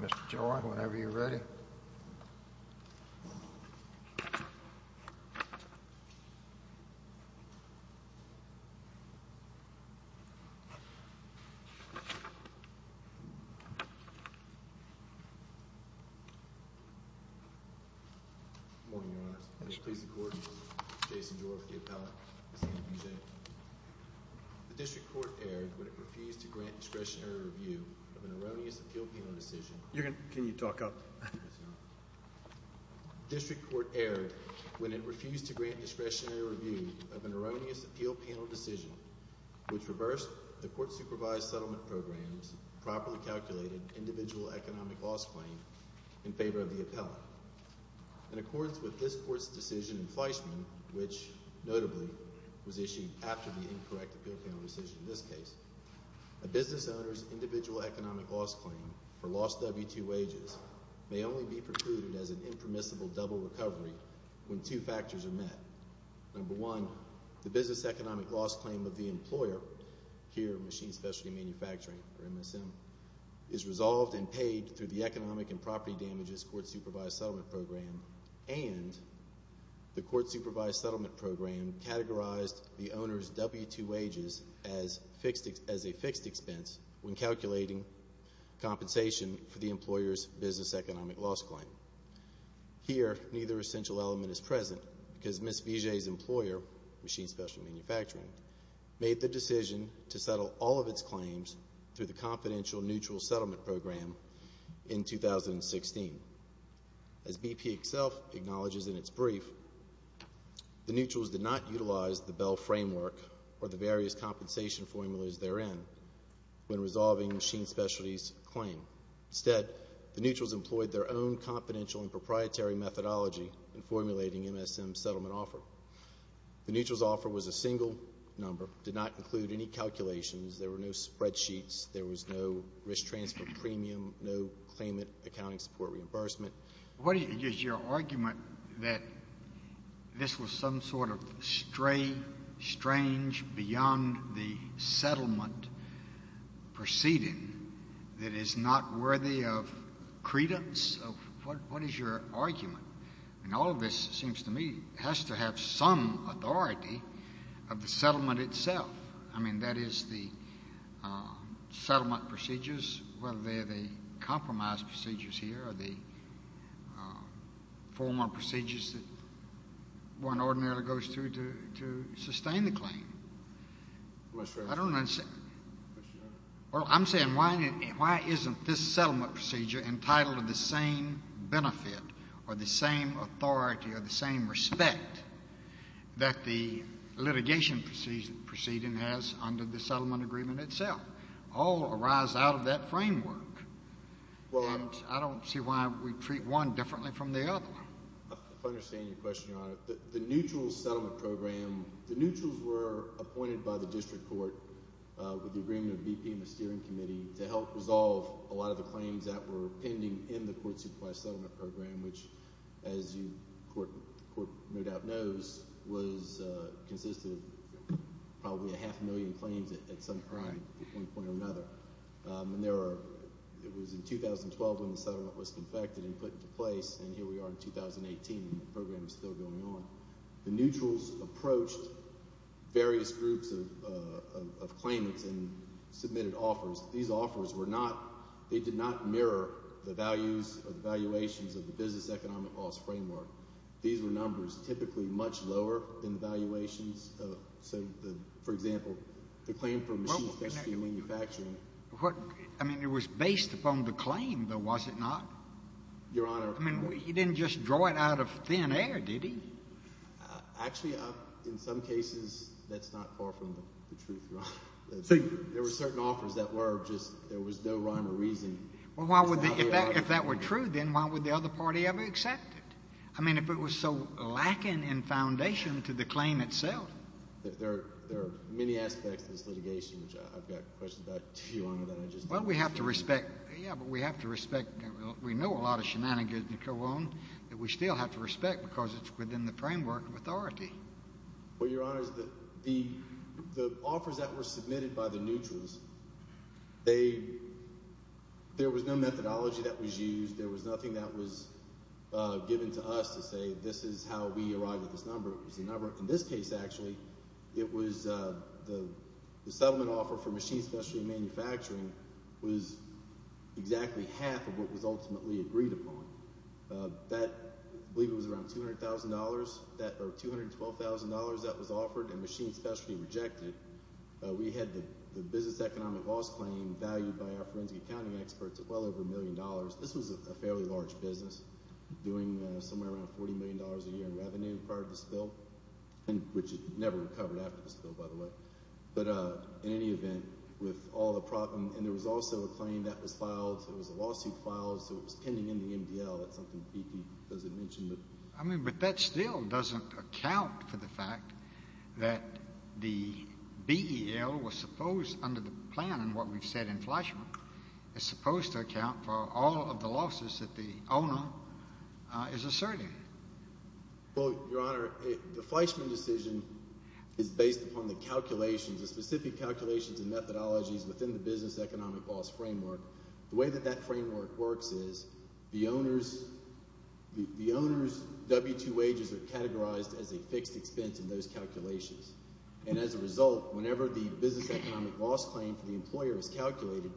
Mister Jordan or whatever you really. Okay? Good morning your District Court erred when it refused to grant discretionary review of an erroneous appeal panel decision, which reversed the court-supervised settlement program's properly calculated individual economic loss claim in favor of the appellant. In accordance with this court's decision in Fleischman, which, notably, was issued after the incorrect appeal panel decision in this case, a business owner's individual economic loss claim for lost W-2 wages may only be precluded as an impermissible double recovery when two factors are met. Number one, the business economic loss claim of the employer, here Machine Specialty Manufacturing, or MSM, is resolved and paid through the Economic and Property Damages Court-Supervised Settlement Program, and the Court-Supervised Settlement Program categorized the owner's W-2 wages as a fixed expense when calculating compensation for the employer's business economic loss claim. Here, neither essential element is present because Ms. Vijay's employer, Machine Specialty Manufacturing, made the decision to settle all of its claims through the Confidential Neutral Settlement Program in 2016. As BP itself acknowledges in its brief, the neutrals did not utilize the Bell framework or the various compensation formulas therein when resolving Machine Specialty's claim. Instead, the neutrals employed their own confidential and proprietary methodology in formulating MSM's settlement offer. The neutrals' offer was a single number, did not include any calculations, there were no spreadsheets, there was no risk transfer premium, no claimant accounting support reimbursement. What is your argument that this was some sort of stray, strange, beyond-the-settlement proceeding that is not worthy of credence? What is your argument? And all of this seems to me has to have some authority of the settlement itself. I mean, that is the settlement procedures, whether they're the compromise procedures here or the formal procedures that one ordinarily goes through to sustain the claim. I don't understand. Well, I'm saying why isn't this settlement procedure entitled to the same benefit or the same authority or the same respect that the litigation proceeding has under the settlement agreement itself? All arise out of that framework. And I don't see why we treat one differently from the other. I understand your question, Your Honor. The neutrals settlement program, the neutrals were appointed by the district court with the agreement of BP and the steering committee to help resolve a lot of the claims that were pending in the court-supervised settlement program, which, as the court no doubt knows, consisted of probably a half million claims at some point or another. And it was in 2012 when the settlement was confected and put into place, and here we are in 2018, and the program is still going on. The neutrals approached various groups of claimants and submitted offers. These offers were not ñ they did not mirror the values or the valuations of the business economic cost framework. These were numbers typically much lower than the valuations of, say, for example, the claim for machine efficiency manufacturing. I mean, it was based upon the claim, though, was it not? Your Honor. I mean, he didn't just draw it out of thin air, did he? Actually, in some cases, that's not far from the truth, Your Honor. There were certain offers that were just ñ there was no rhyme or reason. Well, why would ñ if that were true, then why would the other party ever accept it? I mean, if it was so lacking in foundation to the claim itself. There are many aspects to this litigation, which I've got questions about to you, Your Honor, that I just ñ Well, we have to respect ñ yeah, but we have to respect ñ we know a lot of shenanigans that go on that we still have to respect because it's within the framework of authority. Well, Your Honor, the offers that were submitted by the neutrals, they ñ there was no methodology that was used. There was nothing that was given to us to say this is how we arrived at this number. In this case, actually, it was ñ the settlement offer for machine specialty manufacturing was exactly half of what was ultimately agreed upon. That ñ I believe it was around $200,000 that ñ or $212,000 that was offered and machine specialty rejected. We had the business economic loss claim valued by our forensic accounting experts at well over a million dollars. This was a fairly large business doing somewhere around $40 million a year in revenue prior to the spill, which it never recovered after the spill, by the way. But in any event, with all the ñ and there was also a claim that was filed. It was a lawsuit filed, so it was pending in the MDL. That's something BP doesn't mention. I mean, but that still doesn't account for the fact that the BEL was supposed ñ under the plan and what we've said in Fleischman, is supposed to account for all of the losses that the owner is asserting. Well, Your Honor, the Fleischman decision is based upon the calculations, the specific calculations and methodologies within the business economic loss framework. The way that that framework works is the owner's ñ the owner's W-2 wages are categorized as a fixed expense in those calculations. And as a result, whenever the business economic loss claim for the employer is calculated,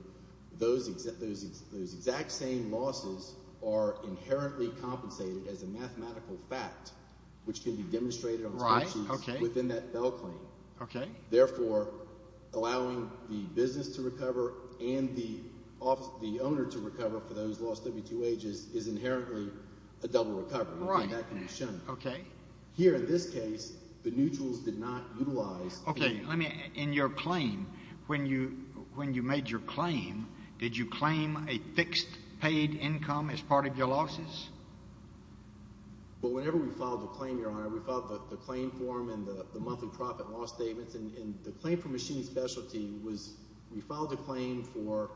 those exact same losses are inherently compensated as a mathematical fact, which can be demonstrated on spreadsheets within that BEL claim. Therefore, allowing the business to recover and the owner to recover for those lost W-2 wages is inherently a double recovery. That can be shown. Okay. Here in this case, the mutuals did not utilize ñ Okay. Let me ñ in your claim, when you made your claim, did you claim a fixed paid income as part of your losses? Well, whenever we filed the claim, Your Honor, we filed the claim form and the monthly profit loss statements. And the claim for machine specialty was we filed a claim for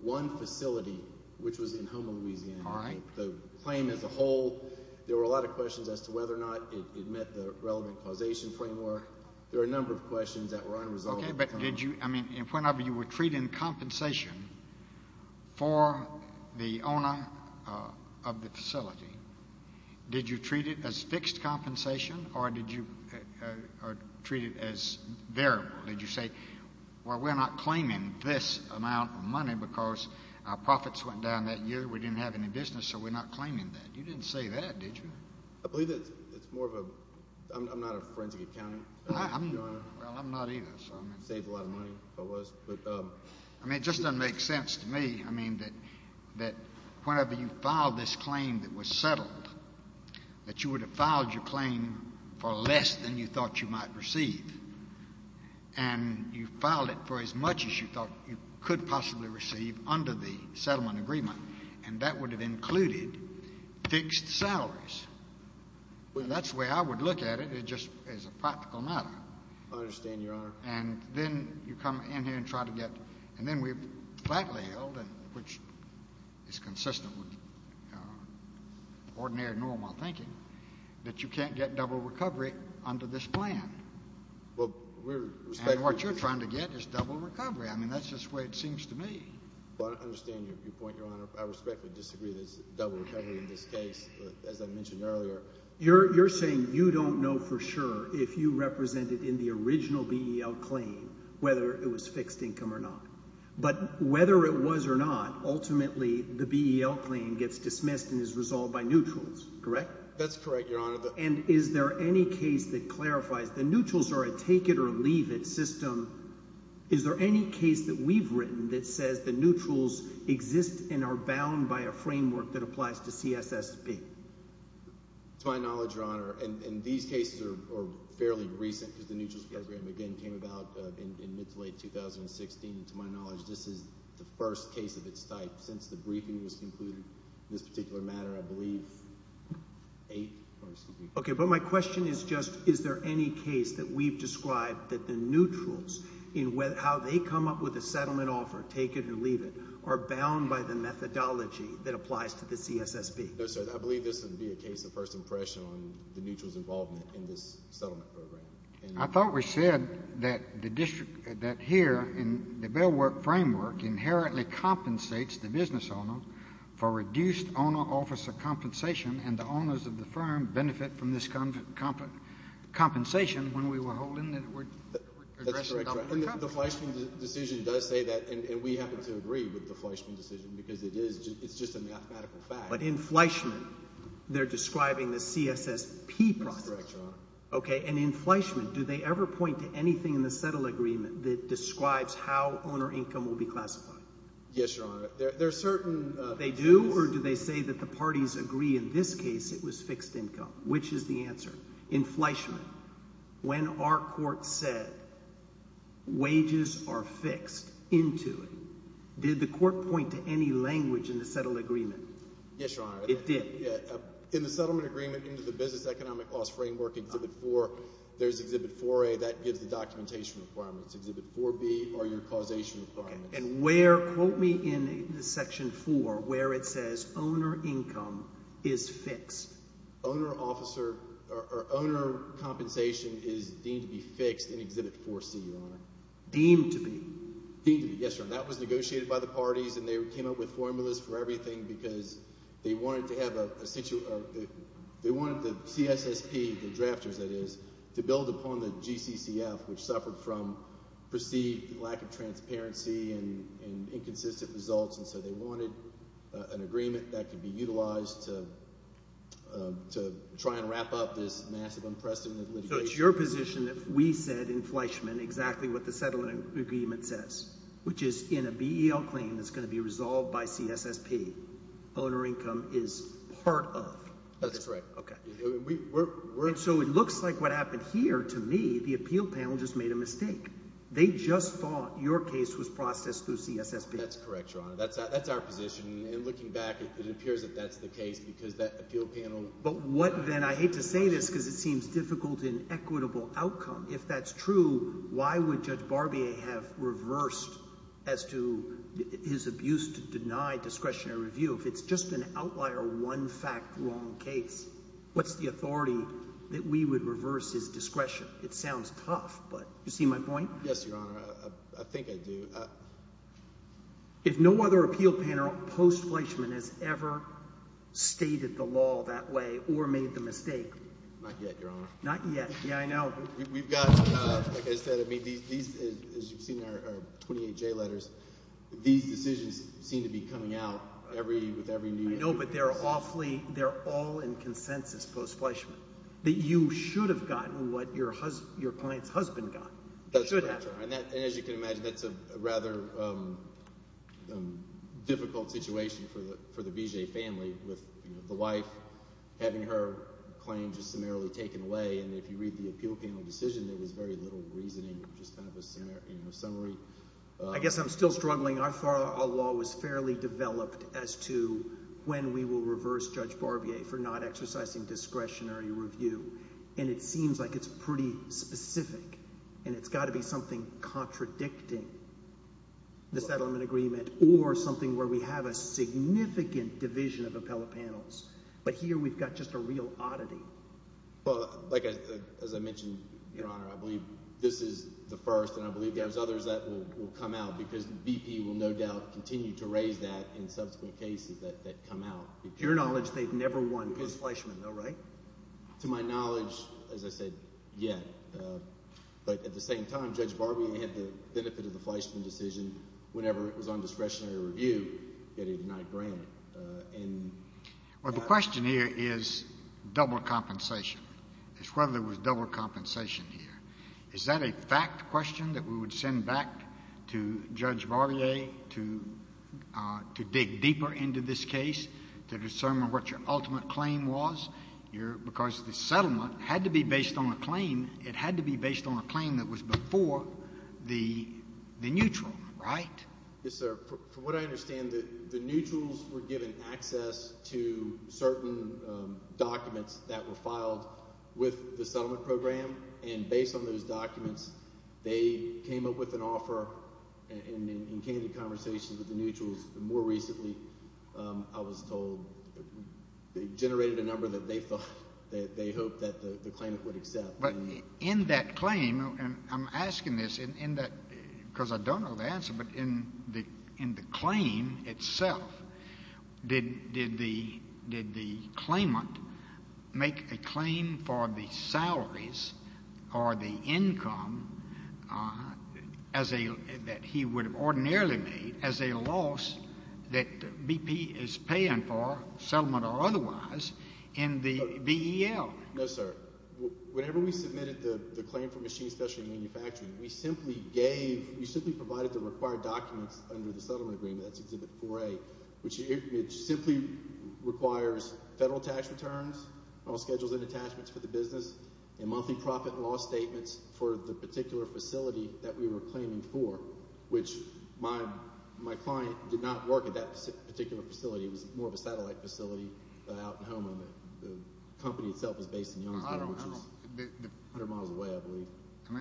one facility, which was in Houma, Louisiana. All right. The claim as a whole, there were a lot of questions as to whether or not it met the relevant causation framework. There were a number of questions that were unresolved. Okay. But did you ñ I mean, whenever you were treating compensation for the owner of the facility, did you treat it as fixed compensation or did you treat it as variable? Did you say, well, we're not claiming this amount of money because our profits went down that year, we didn't have any business, so we're not claiming that. You didn't say that, did you? I believe that it's more of a ñ I'm not a forensic accountant, Your Honor. Well, I'm not either, so I mean ñ It saves a lot of money, if it was. But ñ I mean, it just doesn't make sense to me, I mean, that whenever you filed this claim that was settled, that you would have filed your claim for less than you thought you might receive. And you filed it for as much as you thought you could possibly receive under the settlement agreement, and that would have included fixed salaries. Well, that's the way I would look at it. It just is a practical matter. I understand, Your Honor. And then you come in here and try to get ñ and then we flatly held, which is consistent with ordinary, normal thinking, that you can't get double recovery under this plan. Well, we're ñ And what you're trying to get is double recovery. I mean, that's just the way it seems to me. Well, I understand your point, Your Honor. I respectfully disagree that there's double recovery in this case, as I mentioned earlier. You're saying you don't know for sure if you represented in the original BEL claim whether it was fixed income or not. But whether it was or not, ultimately the BEL claim gets dismissed and is resolved by neutrals, correct? That's correct, Your Honor. And is there any case that clarifies ñ the neutrals are a take-it-or-leave-it system. Is there any case that we've written that says the neutrals exist and are bound by a framework that applies to CSSP? To my knowledge, Your Honor, and these cases are fairly recent because the neutrals program, again, came about in mid to late 2016. To my knowledge, this is the first case of its type since the briefing was concluded in this particular matter, I believe, 8th or ñ excuse me. Okay, but my question is just is there any case that we've described that the neutrals in how they come up with a settlement offer, take-it-or-leave-it, are bound by the methodology that applies to the CSSP? No, sir. I believe this would be a case of first impression on the neutrals involvement in this settlement program. I thought we said that the district ñ that here in the Bellwork framework inherently compensates the business owner for reduced owner-officer compensation, and the owners of the firm benefit from this compensation when we were holding it. That's correct, Your Honor. And the Fleischman decision does say that, and we happen to agree with the Fleischman decision because it is ñ it's just a mathematical fact. But in Fleischman, they're describing the CSSP process. That's correct, Your Honor. Okay, and in Fleischman, do they ever point to anything in the settle agreement that describes how owner income will be classified? Yes, Your Honor. There are certainÖ They do, or do they say that the parties agree in this case it was fixed income? Which is the answer? In Fleischman, when our court said wages are fixed into it, did the court point to any language in the settle agreement? Yes, Your Honor. It did? In the settlement agreement into the business economic cost framework in Exhibit 4, there's Exhibit 4A. That gives the documentation requirements. Exhibit 4B are your causation requirements. Okay, and where ñ quote me in Section 4 where it says owner income is fixed. Owner-officer or owner compensation is deemed to be fixed in Exhibit 4C, Your Honor. Deemed to be? Deemed to be, yes, Your Honor. That was negotiated by the parties, and they came up with formulas for everything because they wanted to have a ñ they wanted the CSSP, the drafters that is, to build upon the GCCF, which suffered from perceived lack of transparency and inconsistent results. And so they wanted an agreement that could be utilized to try and wrap up this massive unprecedented litigation. So it's your position that we said in Fleischman exactly what the settlement agreement says, which is in a BEL claim that's going to be resolved by CSSP, owner income is part of. That's right. Okay. And so it looks like what happened here, to me, the appeal panel just made a mistake. They just thought your case was processed through CSSP. That's correct, Your Honor. That's our position, and looking back, it appears that that's the case because that appeal panel ñ But what then ñ I hate to say this because it seems difficult and equitable outcome. If that's true, why would Judge Barbier have reversed as to his abuse to deny discretionary review? If it's just an outlier one-fact wrong case, what's the authority that we would reverse his discretion? It sounds tough, but you see my point? Yes, Your Honor. I think I do. If no other appeal panel post-Fleischman has ever stated the law that way or made the mistake ñ Not yet, Your Honor. Not yet. Yeah, I know. We've got ñ like I said, I mean these, as you've seen, are 28J letters. These decisions seem to be coming out every ñ with every new ñ I know, but they're awfully ñ they're all in consensus post-Fleischman, that you should have gotten what your client's husband got. That's correct, Your Honor. And as you can imagine, that's a rather difficult situation for the BJ family with the wife having her claim just summarily taken away. And if you read the appeal panel decision, there was very little reasoning, just kind of a summary. I guess I'm still struggling. Our law was fairly developed as to when we will reverse Judge Barbier for not exercising discretionary review, and it seems like it's pretty specific. And it's got to be something contradicting the settlement agreement or something where we have a significant division of appellate panels. But here we've got just a real oddity. Well, like I ñ as I mentioned, Your Honor, I believe this is the first, and I believe there's others that will come out because BP will no doubt continue to raise that in subsequent cases that come out. To your knowledge, they've never won post-Fleischman though, right? To my knowledge, as I said, yet. But at the same time, Judge Barbier had the benefit of the Fleischman decision whenever it was on discretionary review getting denied grant. Well, the question here is double compensation. It's whether there was double compensation here. Is that a fact question that we would send back to Judge Barbier to dig deeper into this case to determine what your ultimate claim was? Because the settlement had to be based on a claim. It had to be based on a claim that was before the neutral, right? Yes, sir. From what I understand, the neutrals were given access to certain documents that were filed with the settlement program. And based on those documents, they came up with an offer and came to conversations with the neutrals. More recently, I was told they generated a number that they thought ñ that they hoped that the claimant would accept. But in that claim ñ and I'm asking this in that ñ because I don't know the answer. But in the claim itself, did the claimant make a claim for the salaries or the income as a ñ that he would have ordinarily made as a loss that BP is paying for, settlement or otherwise, in the BEL? No, sir. Whenever we submitted the claim for machine special manufacturing, we simply gave ñ we simply provided the required documents under the settlement agreement. That's exhibit 4A, which simply requires federal tax returns, all schedules and attachments for the business, and monthly profit and loss statements for the particular facility that we were claiming for, which my client did not work at that particular facility. It was more of a satellite facility out in Houma. The company itself is based in Youngstown, which is 100 miles away, I believe.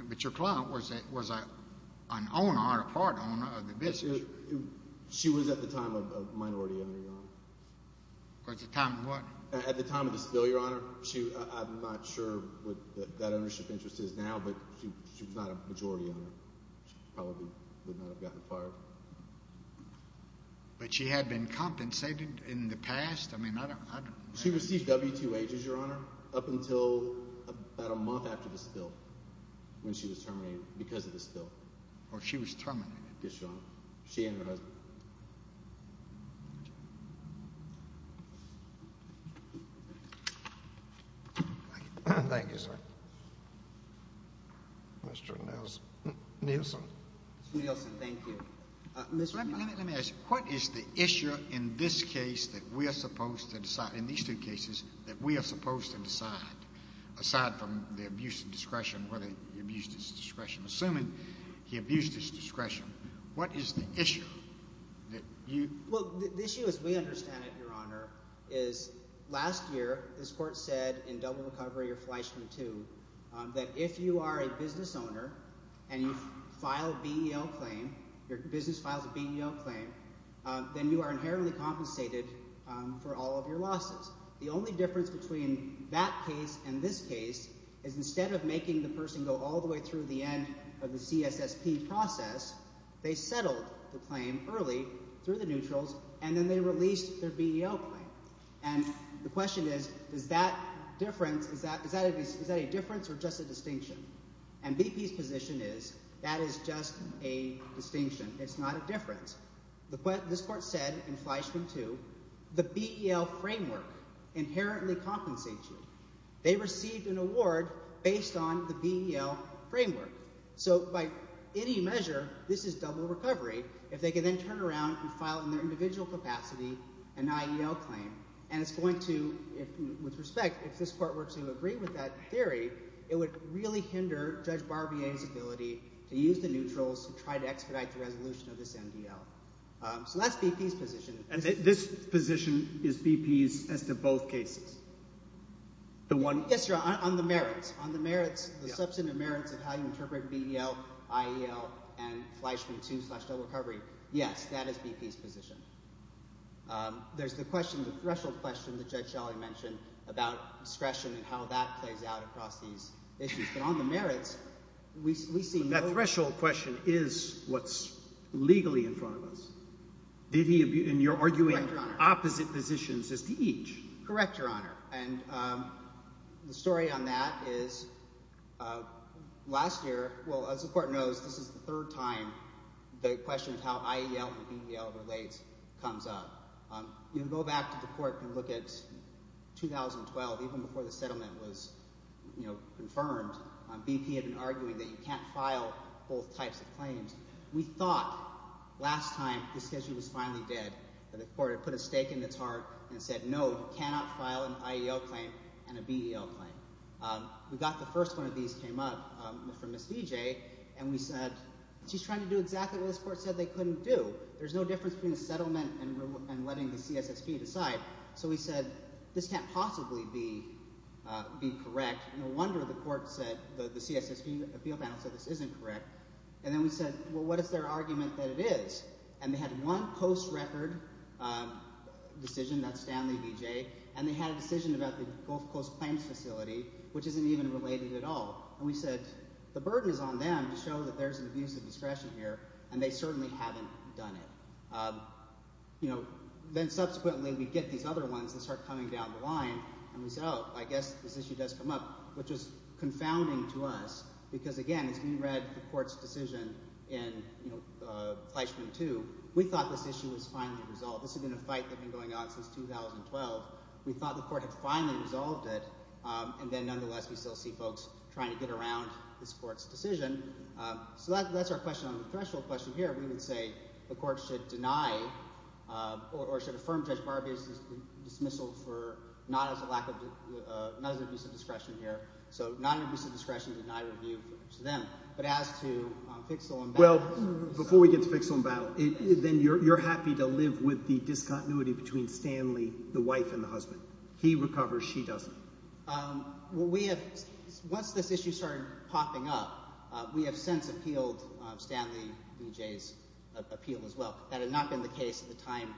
But your client was an owner or part owner of the business. She was at the time a minority owner, Your Honor. At the time of what? At the time of the spill, Your Honor. I'm not sure what that ownership interest is now, but she was not a majority owner. She probably would not have gotten fired. But she had been compensated in the past? I mean, I don't ñ She received W-2 ages, Your Honor, up until about a month after the spill, when she was terminated because of the spill. Oh, she was terminated? Yes, Your Honor. She and her husband. Thank you, sir. Mr. Nielsen. Mr. Nielsen, thank you. Let me ask you. What is the issue in this case that we are supposed to decide ñ in these two cases that we are supposed to decide, aside from the abuse of discretion, whether he abused his discretion, assuming he abused his discretion? What is the issue that you ñ Well, the issue as we understand it, Your Honor, is last year this court said in double recovery or Fleischman II that if you are a business owner and you file a BEL claim, your business files a BEL claim, then you are inherently compensated for all of your losses. The only difference between that case and this case is instead of making the person go all the way through the end of the CSSP process, they settled the claim early through the neutrals, and then they released their BEL claim. And the question is, is that difference ñ is that a difference or just a distinction? And BPís position is that is just a distinction. Itís not a difference. This court said in Fleischman II the BEL framework inherently compensates you. They received an award based on the BEL framework. So by any measure, this is double recovery. If they can then turn around and file in their individual capacity an IEL claim, and itís going to ñ with respect, if this court were to agree with that theory, it would really hinder Judge Barbierís ability to use the neutrals to try to expedite the resolution of this MDL. So thatís BPís position. And this position is BPís as to both cases? Yes, Your Honor. On the merits. On the merits, the substantive merits of how you interpret BEL, IEL, and Fleischman II slash double recovery, yes, that is BPís position. Thereís the question ñ the threshold question that Judge Shelley mentioned about discretion and how that plays out across these issues. But on the merits, we see no ñ But that threshold question is whatís legally in front of us. Did he ñ and youíre arguing opposite positions as to each. Correct, Your Honor. And the story on that is last year ñ well, as the court knows, this is the third time the question of how IEL and BEL relates comes up. You can go back to the court and look at 2012. Even before the settlement was confirmed, BP had been arguing that you canít file both types of claims. We thought last time the schedule was finally dead, that the court had put a stake in its heart and said, ìNo, you cannot file an IEL claim and a BEL claim.î We got the first one of these came up from Ms. Vijay, and we said, ìSheís trying to do exactly what this court said they couldnít do. Thereís no difference between a settlement and letting the CSSP decide.î So we said, ìThis canít possibly be correct. No wonder the court said ñ the CSSP appeal panel said this isnít correct.î And then we said, ìWell, what is their argument that it is?î And they had one post-record decision, thatís Stanley Vijay, and they had a decision about the Gulf Coast Claims Facility, which isnít even related at all. And we said, ìThe burden is on them to show that thereís an abuse of discretion here, and they certainly havenít done it.î Then subsequently we get these other ones that start coming down the line, and we said, ìOh, I guess this issue does come up,î which was confounding to us because, again, as we read the courtís decision in Fleischman 2, we thought this issue was finally resolved. This had been a fight that had been going on since 2012. We thought the court had finally resolved it, and then nonetheless we still see folks trying to get around this courtís decision. So thatís our question on the threshold question here. We would say the court should deny or should affirm Judge Barbierís dismissal for not as an abuse of discretion here. So not an abuse of discretion, deny review to them. But as to Fixel and Battleó Well, before we get to Fixel and Battle, then youíre happy to live with the discontinuity between Stanley, the wife, and the husband. He recovers, she doesnít. Well, we haveóonce this issue started popping up, we have since appealed Stanley Vijayís appeal as well. That had not been the case at the time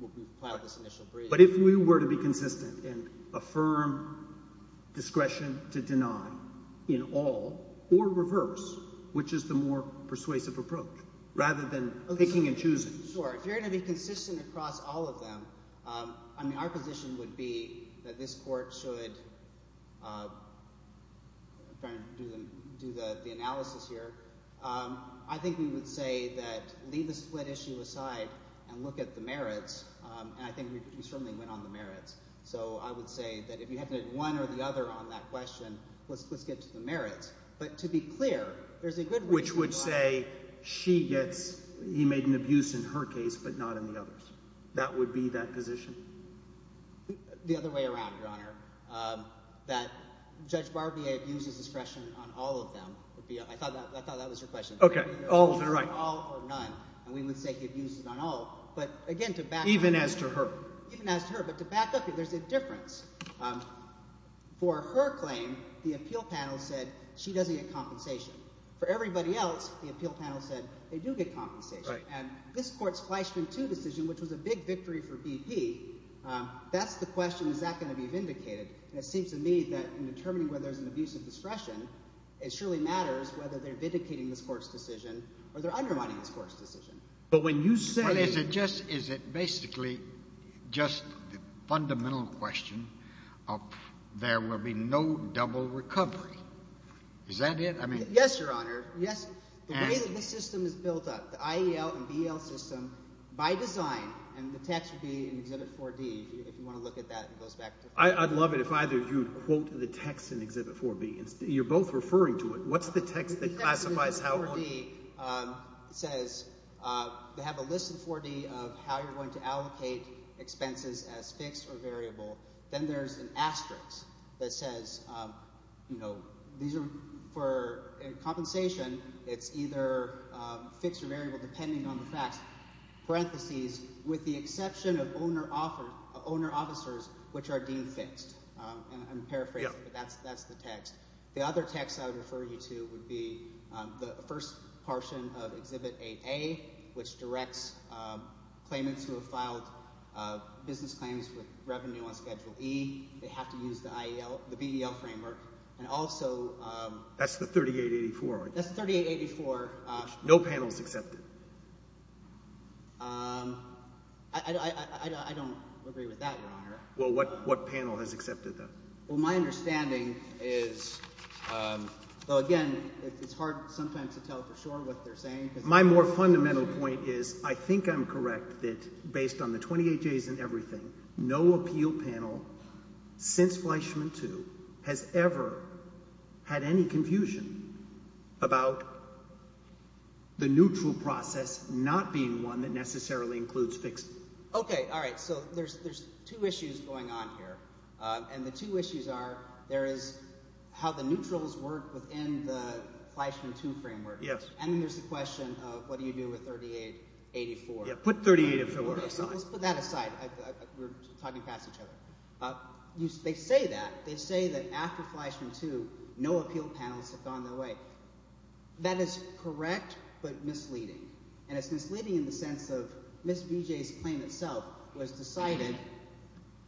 when we filed this initial brief. But if we were to be consistent and affirm discretion to deny in all or reverse, which is the more persuasive approach, rather than picking and choosing? Sure. If youíre going to be consistent across all of them, I mean our position would be that this court shouldóIím trying to do the analysis here. I think we would say that leave the split issue aside and look at the merits, and I think we certainly went on the merits. So I would say that if you have one or the other on that question, letís get to the merits. But to be clear, thereís a goodó Which would say she getsóhe made an abuse in her case but not in the others. That would be that position? The other way around, Your Honor, that Judge Barbier abuses discretion on all of them. I thought that was your question. Okay. All or none. All or none, and we would say he abuses it on all. But again, to back upó Even as to her. Even as to her, but to back up here, thereís a difference. For her claim, the appeal panel said she doesnít get compensation. For everybody else, the appeal panel said they do get compensation. Right. And this courtís Fleischman II decision, which was a big victory for BP, thatís the question. Is that going to be vindicated? And it seems to me that in determining whether thereís an abuse of discretion, it surely matters whether theyíre vindicating this courtís decision or theyíre undermining this courtís decision. But when you sayó But is it justóis it basically just the fundamental question of there will be no double recovery? Is that it? I meanó Yes, Your Honor. Yes. Andó The way that this system is built up, the IEL and BEL system, by designóand the text would be in Exhibit 4D. If you want to look at that, it goes back toó Iíd love it if either of you would quote the text in Exhibit 4B. Youíre both referring to it. Whatís the text that classifies Howard? Exhibit 4D says they have a list in 4D of how youíre going to allocate expenses as fixed or variable. Then thereís an asterisk that says, you know, these areófor compensation, itís either fixed or variable, depending on the facts, parentheses, with the exception of owner officers, which are deemed fixed. Iím paraphrasing, but thatís the text. The other text I would refer you to would be the first portion of Exhibit 8A, which directs claimants who have filed business claims with revenue on Schedule E. They have to use the IELóthe BEL framework. And alsoó Thatís the 3884. Thatís the 3884. No panelís accepted. I donít agree with that, Your Honor. Well, what panel has accepted that? Well, my understanding isówell, again, itís hard sometimes to tell for sure what theyíre saying. My more fundamental point is I think Iím correct that, based on the 28 days and everything, no appeal panel since Fleischman II has ever had any confusion about the neutral process not being one that necessarily includes fixed. Okay. All right. So thereís two issues going on here. And the two issues are there is how the neutrals work within the Fleischman II framework. Yes. And then thereís the question of what do you do with 3884. Put 3884 aside. Letís put that aside. Weíre talking past each other. They say that. They say that after Fleischman II, no appeal panels have gone their way. That is correct but misleading. And itís misleading in the sense of Ms. Vijayís claim itself was decided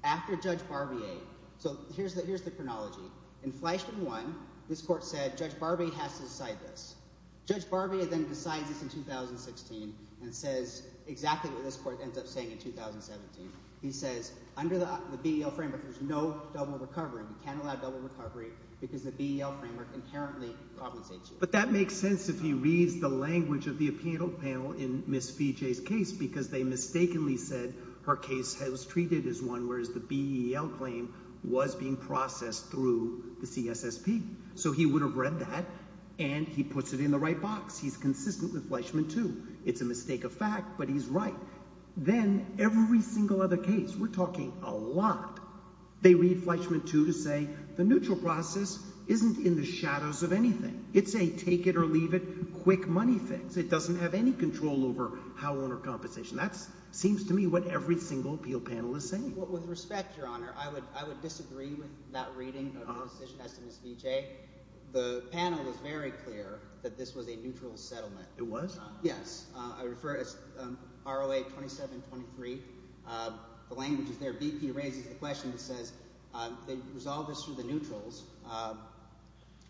after Judge Barbier. So hereís the chronology. In Fleischman I, this court said Judge Barbier has to decide this. Judge Barbier then decides this in 2016 and says exactly what this court ends up saying in 2017. He says under the BEL framework, thereís no double recovery. You canít allow double recovery because the BEL framework inherently compensates you. But that makes sense if he reads the language of the appeal panel in Ms. Vijayís case because they mistakenly said her case was treated as one whereas the BEL claim was being processed through the CSSP. So he would have read that and he puts it in the right box. Heís consistent with Fleischman II. Itís a mistake of fact but heís right. Then every single other caseóweíre talking a lotóthey read Fleischman II to say the neutral process isnít in the shadows of anything. Itís a take-it-or-leave-it, quick money fix. It doesnít have any control over how owner compensationóthat seems to me what every single appeal panel is saying. With respect, Your Honor, I would disagree with that reading of Ms. Vijay. The panel was very clear that this was a neutral settlement. It was? Yes. I would refer it as ROA 2723. The language is there. BP raises the question and says they resolved this through the neutrals,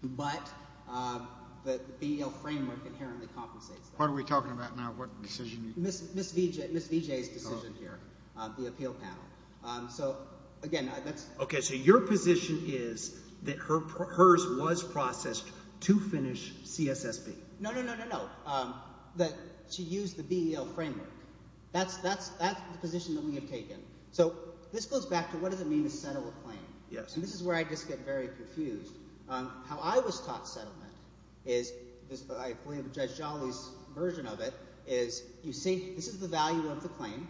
but the BEL framework inherently compensates them. What are we talking about now? What decisionó Ms. Vijayís decision here, the appeal panel. So again, thatísó Okay. So your position is that hers was processed to finish CSSP? No, no, no, no, no. That she used the BEL framework. Thatís the position that we have taken. So this goes back to what does it mean to settle a claim? Yes. And this is where I just get very confused. How I was taught settlement isóI believe Judge Jollyís version of itóis you seeóthis is the value of the claim.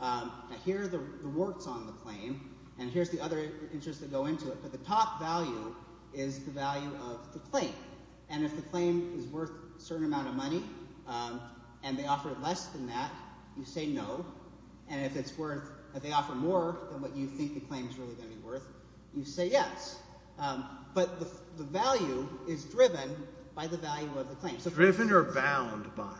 Now here are the rewards on the claim, and hereís the other interest that go into it, but the top value is the value of the claim. And if the claim is worth a certain amount of money and they offer less than that, you say no. And if itís worthóif they offer more than what you think the claim is really going to be worth, you say yes. But the value is driven by the value of the claim. Driven or bound by?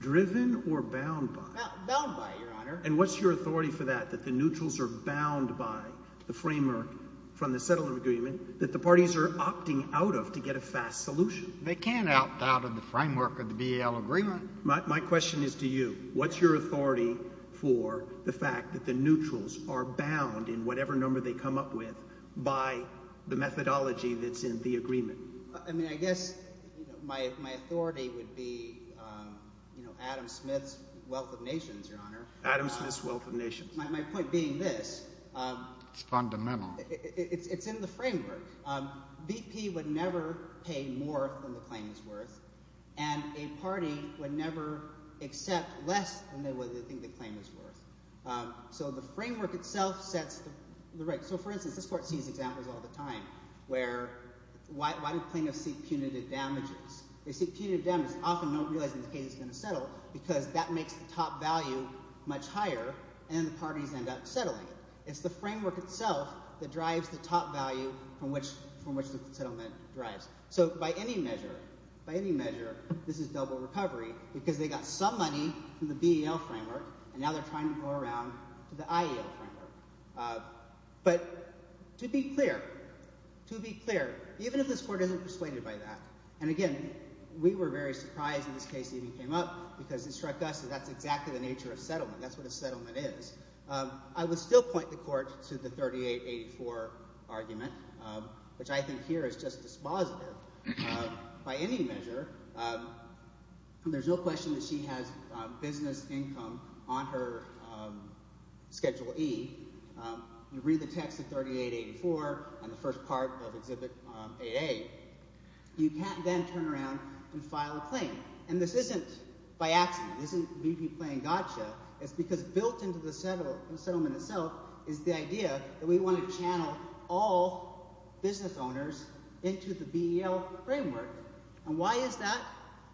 Driven or bound by? Bound by, Your Honor. And whatís your authority for that, that the neutrals are bound by the framework from the settlement agreement that the parties are opting out of to get a fast solution? They canít opt out of the framework of the BEL agreement. My question is to you. Whatís your authority for the fact that the neutrals are bound in whatever number they come up with by the methodology thatís in the agreement? I mean I guess my authority would be Adam Smithís Wealth of Nations, Your Honor. Adam Smithís Wealth of Nations. My point being this. Itís fundamental. Itís in the framework. BP would never pay more than the claim is worth, and a party would never accept less than they think the claim is worth. So the framework itself sets the right. So, for instance, this Court sees examples all the time where why do plaintiffs seek punitive damages? They seek punitive damages, often not realizing the case is going to settle because that makes the top value much higher, and then the parties end up settling it. Itís the framework itself that drives the top value from which the settlement drives. So by any measure, by any measure, this is double recovery because they got some money from the BEL framework, and now theyíre trying to go around to the IAL framework. But to be clear, to be clear, even if this Court isnít persuaded by tható and again, we were very surprised when this case even came up because it struck us that thatís exactly the nature of settlement. Thatís what a settlement is. I would still point the Court to the 3884 argument, which I think here is just dispositive. By any measure, thereís no question that she has business income on her Schedule E. You read the text of 3884 on the first part of Exhibit 8A. You canít then turn around and file a claim, and this isnít by accident. This isnít BP playing gotcha. Itís because built into the settlement itself is the idea that we want to channel all business owners into the BEL framework. And why is that?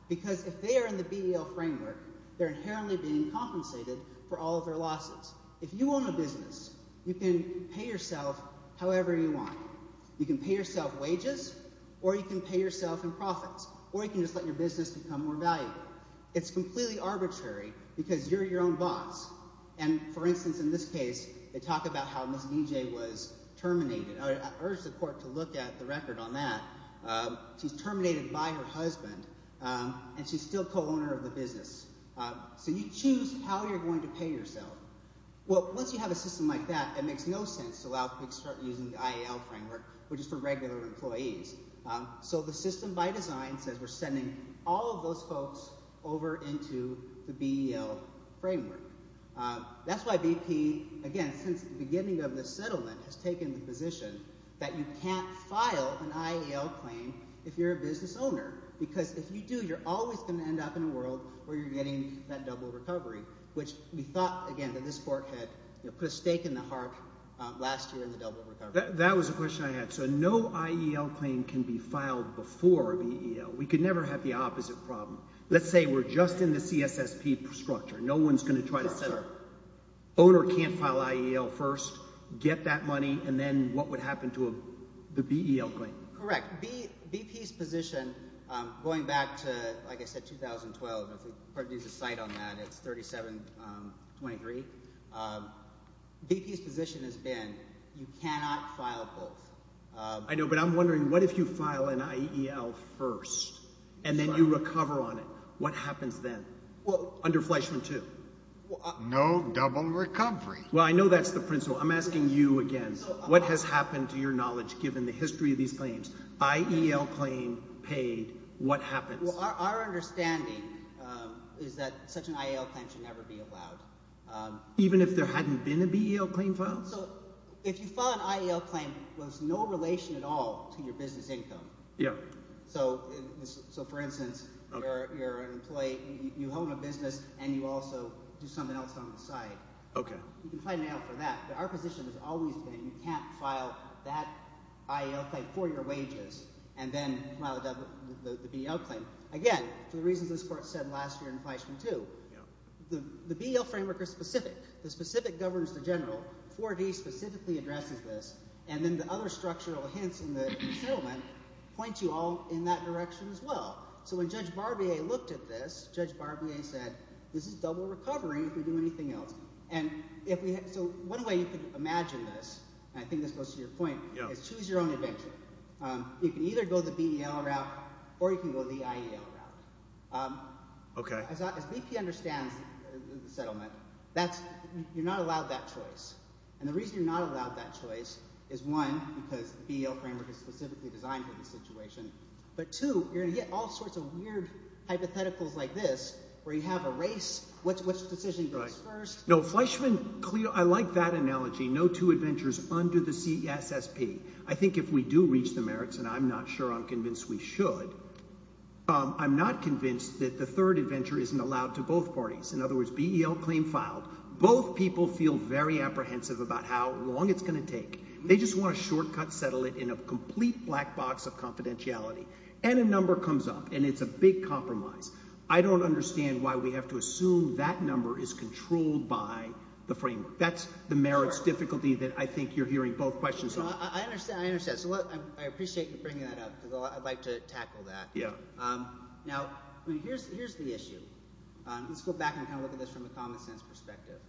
Because if they are in the BEL framework, theyíre inherently being compensated for all of their losses. If you own a business, you can pay yourself however you want. You can pay yourself wages, or you can pay yourself in profits, or you can just let your business become more valuable. Itís completely arbitrary because youíre your own boss. And, for instance, in this case, they talk about how Ms. DJ was terminated. I urge the Court to look at the record on that. Sheís terminated by her husband, and sheís still co-owner of the business. So you choose how youíre going to pay yourself. Well, once you have a system like that, it makes no sense to allow people to start using the IAL framework, which is for regular employees. So the system by design says weíre sending all of those folks over into the BEL framework. Thatís why BP, again, since the beginning of the settlement, has taken the position that you canít file an IAL claim if youíre a business owner. Because if you do, youíre always going to end up in a world where youíre getting that double recovery, which we thought, again, that this Court had put a stake in the heart last year in the double recovery. That was a question I had. So no IAL claim can be filed before a BEL. We could never have the opposite problem. Letís say weíre just in the CSSP structure. No oneís going to try to say owner canít file IAL first, get that money, and then what would happen to the BEL claim? Correct. BPís position, going back to, like I said, 2012, if we produce a cite on that, itís 3723. BPís position has been you cannot file both. I know, but Iím wondering, what if you file an IAL first and then you recover on it? What happens then under Fleischman II? No double recovery. Well, I know thatís the principle. Iím asking you again. What has happened, to your knowledge, given the history of these claims? IAL claim paid. What happens? Our understanding is that such an IAL claim should never be allowed. Even if there hadnít been a BEL claim filed? If you file an IAL claim, thereís no relation at all to your business income. So, for instance, youíre an employee. You own a business, and you also do something else on the site. You can file an IAL for that. Our position has always been you canít file that IAL claim for your wages and then file the BEL claim. Again, for the reasons this Court said last year in Fleischman II, the BEL framework is specific. The specific governs the general. IV-D specifically addresses this. And then the other structural hints in the settlement point you all in that direction as well. So when Judge Barbier looked at this, Judge Barbier said this is double recovery if we do anything else. So one way you can imagine this, and I think this goes to your point, is choose your own adventure. You can either go the BEL route or you can go the IAL route. As BP understands the settlement, youíre not allowed that choice. And the reason youíre not allowed that choice is, one, because the BEL framework is specifically designed for this situation. But, two, youíre going to get all sorts of weird hypotheticals like this where you have a race, which decision goes first. No, Fleischman ñ I like that analogy, no two adventures under the CSSP. I think if we do reach the merits, and Iím not sure Iím convinced we should, Iím not convinced that the third adventure isnít allowed to both parties. In other words, BEL claim filed. Both people feel very apprehensive about how long itís going to take. They just want to shortcut settle it in a complete black box of confidentiality. And a number comes up, and itís a big compromise. I donít understand why we have to assume that number is controlled by the framework. Thatís the merits difficulty that I think youíre hearing both questions on. I understand. I understand. So, look, I appreciate you bringing that up because Iíd like to tackle that. Now, hereís the issue. Letís go back and kind of look at this from a common sense perspective.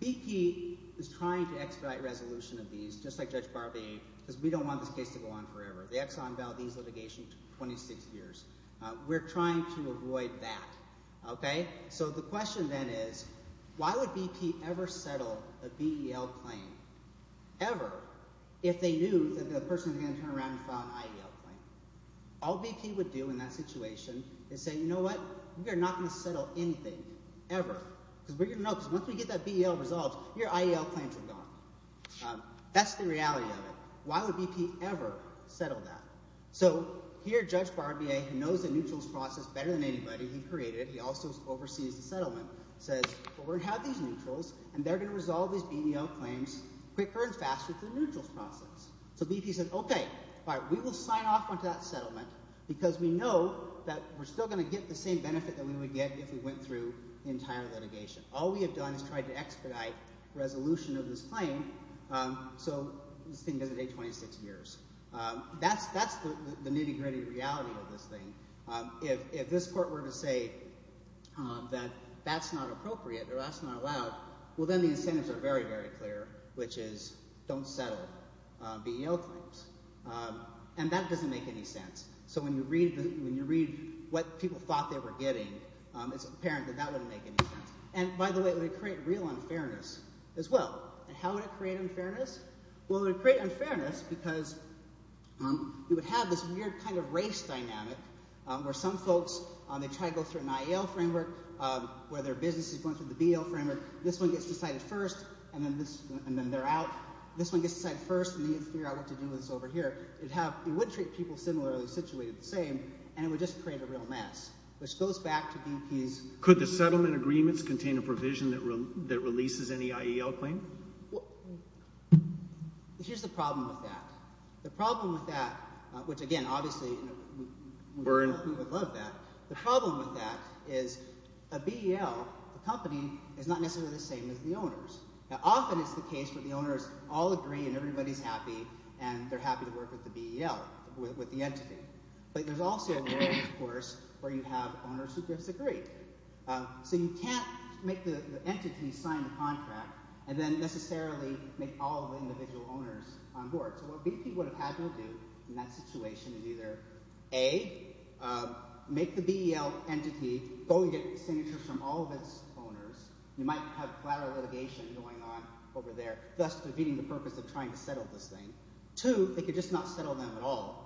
BP is trying to expedite resolution of these, just like Judge Barbier, because we donít want this case to go on forever. The Exxon Valdez litigation took 26 years. Weíre trying to avoid that. Okay? So the question then is why would BP ever settle a BEL claim, ever, if they knew that the person was going to turn around and file an IEL claim? All BP would do in that situation is say, ìYou know what? We are not going to settle anything, ever.î ìBecause weíre going to know because once we get that BEL resolved, your IEL claims are gone.î Thatís the reality of it. Why would BP ever settle that? So here Judge Barbier, who knows the neutrals process better than anybody he createdóhe also oversees the settlementósays, ìWell, weíre going to have these neutrals, and theyíre going to resolve these BEL claims quicker and faster through the neutrals process.î So BP says, ìOkay. All right. We will sign off onto that settlement because we know that weíre still going to get the same benefit that we would get if we went through the entire litigation.î ìAll we have done is tried to expedite resolution of this claim, so this thing doesnít take 26 years.î Thatís the nitty-gritty reality of this thing. If this court were to say that thatís not appropriate or thatís not allowed, well, then the incentives are very, very clear, which is donít settle BEL claims. And that doesnít make any sense. So when you read what people thought they were getting, itís apparent that that wouldnít make any sense. And by the way, it would create real unfairness as well. How would it create unfairness? Well, it would create unfairness because you would have this weird kind of race dynamic where some folks, they try to go through an IEL framework where their business is going through the BEL framework. This one gets decided first, and then theyíre out. This one gets decided first, and then you figure out what to do with this over here. It would treat people similarly situated the same, and it would just create a real mess, which goes back to BPísÖ Could the settlement agreements contain a provision that releases any IEL claim? Hereís the problem with that. The problem with that, which again, obviously, we would love that. The problem with that is a BEL, a company, is not necessarily the same as the owners. Now, often itís the case where the owners all agree and everybodyís happy, and theyíre happy to work with the BEL, with the entity. But thereís also a case, of course, where you have owners who disagree. So you canít make the entity sign the contract and then necessarily make all of the individual owners on board. So what BP would have had them do in that situation is either, A, make the BEL entity go and get signatures from all of its owners. You might have collateral litigation going on over there, thus defeating the purpose of trying to settle this thing. Two, they could just not settle them at all.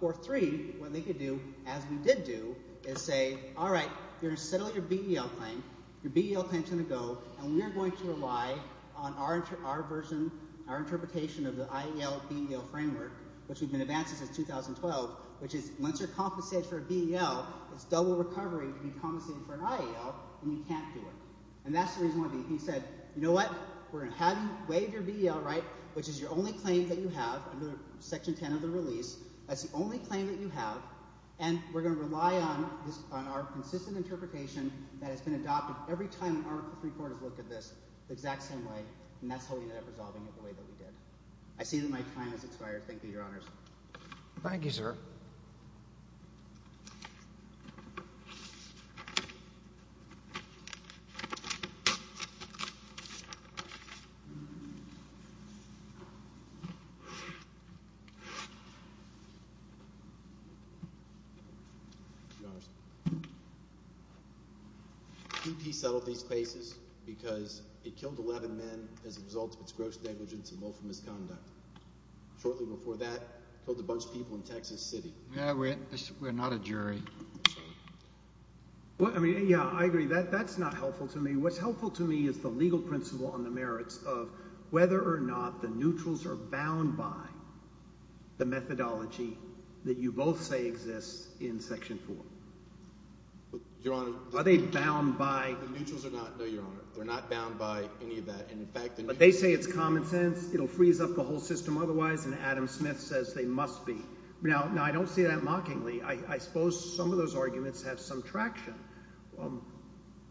Or three, what they could do, as we did do, is say, ìAll right, youíre going to settle your BEL claim. Your BEL claimís going to go, and weíre going to rely on our version, our interpretation of the IEL-BEL framework, which weíve been advancing since 2012. Which is, once youíre compensated for a BEL, itís double recovery to be compensated for an IEL, and we canít do it.î And thatís the reason why BP said, ìYou know what? Weíre going to have you waive your BEL right, which is your only claim that you have under Section 10 of the release. Thatís the only claim that you have, and weíre going to rely on our consistent interpretation that has been adopted every time an article three court has looked at this the exact same way. And thatís how we ended up resolving it the way that we did.î I see that my time has expired. Thank you, Your Honors. Thank you, sir. Your Honors. BP settled these cases because it killed 11 men as a result of its gross negligence and lawful misconduct. Shortly before that, it killed a bunch of people in Texas City. Weíre not a jury. I agree. Thatís not helpful to me. Whatís helpful to me is the legal principle on the merits of whether or not the neutrals are bound by the methodology that you both say exists in Section 4. Your HonorÖ Are they bound byÖ The neutrals are not, no, Your Honor. Theyíre not bound by any of that, and in factÖ But they say itís common sense. It will freeze up the whole system otherwise, and Adam Smith says they must be. Now, I donít say that mockingly. I suppose some of those arguments have some traction.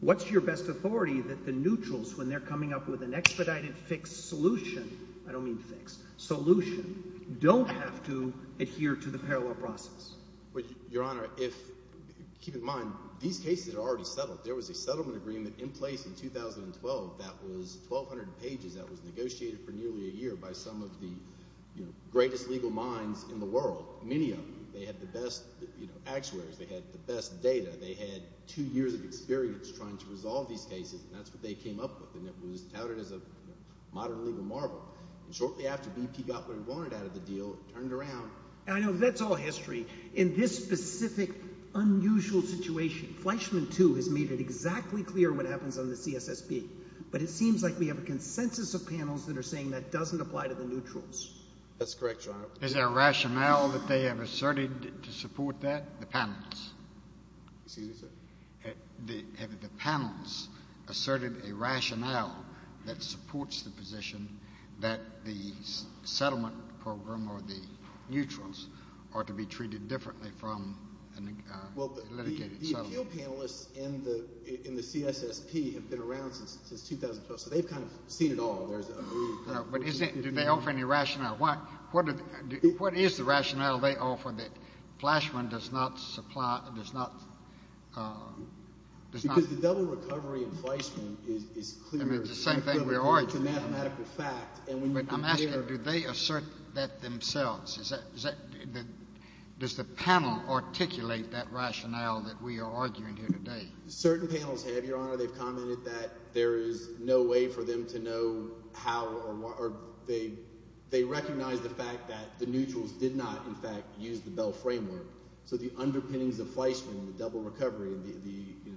Whatís your best authority that the neutrals, when theyíre coming up with an expedited, fixed solutionóI donít mean fixedósolution donít have to adhere to the parallel process? Your Honor, keep in mind these cases are already settled. There was a settlement agreement in place in 2012 that was 1,200 pages that was negotiated for nearly a year by some of the greatest legal minds in the world, many of them. They had the best actuaries. They had the best data. They had two years of experience trying to resolve these cases, and thatís what they came up with, and it was touted as a modern legal marvel. Shortly after, BP got what it wanted out of the deal and turned it around. I know thatís all history. In this specific unusual situation, Fleischman, too, has made it exactly clear what happens on the CSSP, but it seems like we have a consensus of panels that are saying that doesnít apply to the neutrals. Thatís correct, Your Honor. Is there a rationale that they have asserted to support that, the panels? Excuse me, sir? Have the panels asserted a rationale that supports the position that the settlement program or the neutrals are to be treated differently from a litigated settlement? Well, the appeal panelists in the CSSP have been around since 2012, so theyíve kind of seen it all. But do they offer any rationale? What is the rationale they offer that Fleischman does not supplyódoes notó Because the double recovery in Fleischman is clearó I mean, itís the same thing weíre arguing. Itís a mathematical fact, and when you compareó But Iím asking, do they assert that themselves? Does the panel articulate that rationale that we are arguing here today? Certain panels have, Your Honor. Theyíve commented that there is no way for them to know how oróthey recognize the fact that the neutrals did not, in fact, use the Bell framework. So the underpinnings of Fleischman, the double recovery, the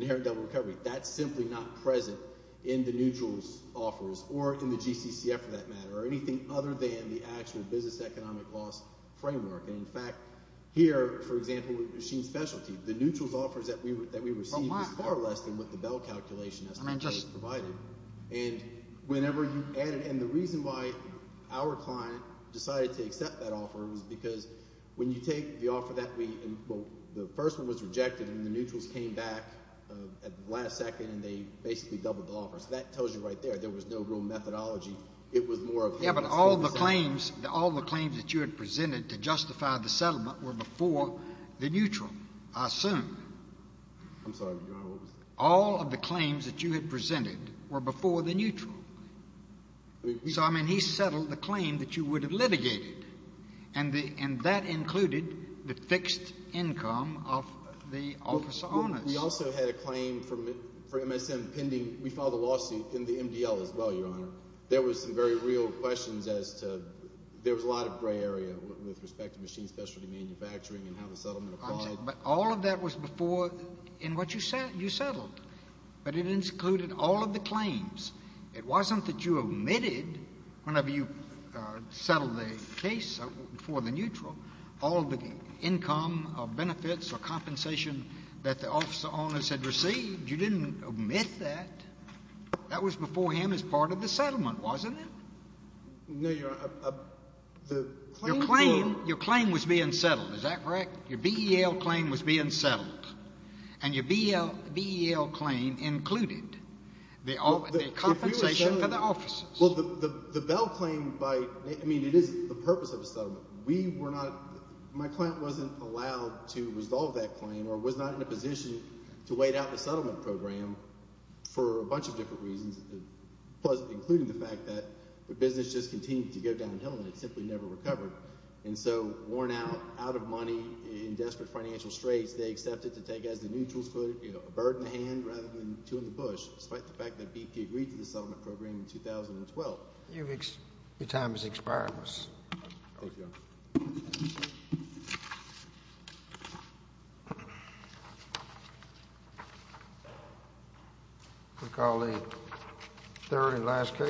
inherent double recovery, thatís simply not present in the neutralsí offers or in the GCCF, for that matter, or anything other than the actual business economic loss framework. And, in fact, here, for example, with machine specialty, the neutralsí offers that we received was far less than what the Bell calculation estimated provided. And whenever you addedóand the reason why our client decided to accept that offer was because when you take the offer that weówell, the first one was rejected, and the neutrals came back at the last second, and they basically doubled the offer. So that tells you right there there was no real methodology. It was more ofó Yes, but all the claimsóall the claims that you had presented to justify the settlement were before the neutral, I assume. Iím sorry, Your Honor, what was that? All of the claims that you had presented were before the neutral. So, I mean, he settled the claim that you would have litigated, and that included the fixed income of the office owners. We also had a claim for MSM pendingówe filed a lawsuit in the MDL as well, Your Honor. There were some very real questions as toóthere was a lot of gray area with respect to machine specialty manufacturing and how the settlement applied. But all of that was beforeóin what you settled. But it included all of the claims. It wasnít that you omitted, whenever you settled the case for the neutral, all of the income or benefits or compensation that the office owners had received. You didnít omit that. That was before him as part of the settlement, wasnít it? No, Your Honor. The claims wereó Your claim was being settled. Is that correct? Your BEL claim was being settled, and your BEL claim included the compensation for the officers. Well, the Bell claim byóI mean, it is the purpose of a settlement. We were notómy client wasnít allowed to resolve that claim or was not in a position to wait out the settlement program for a bunch of different reasons, including the fact that the business just continued to go downhill and it simply never recovered. And so worn out, out of money, in desperate financial straits, they accepted to take, as the neutrals put it, a bird in the hand rather than two in the bush, despite the fact that BP agreed to the settlement program in 2012. Your time has expired. Thank you, Your Honor. Weíll call the third and last case.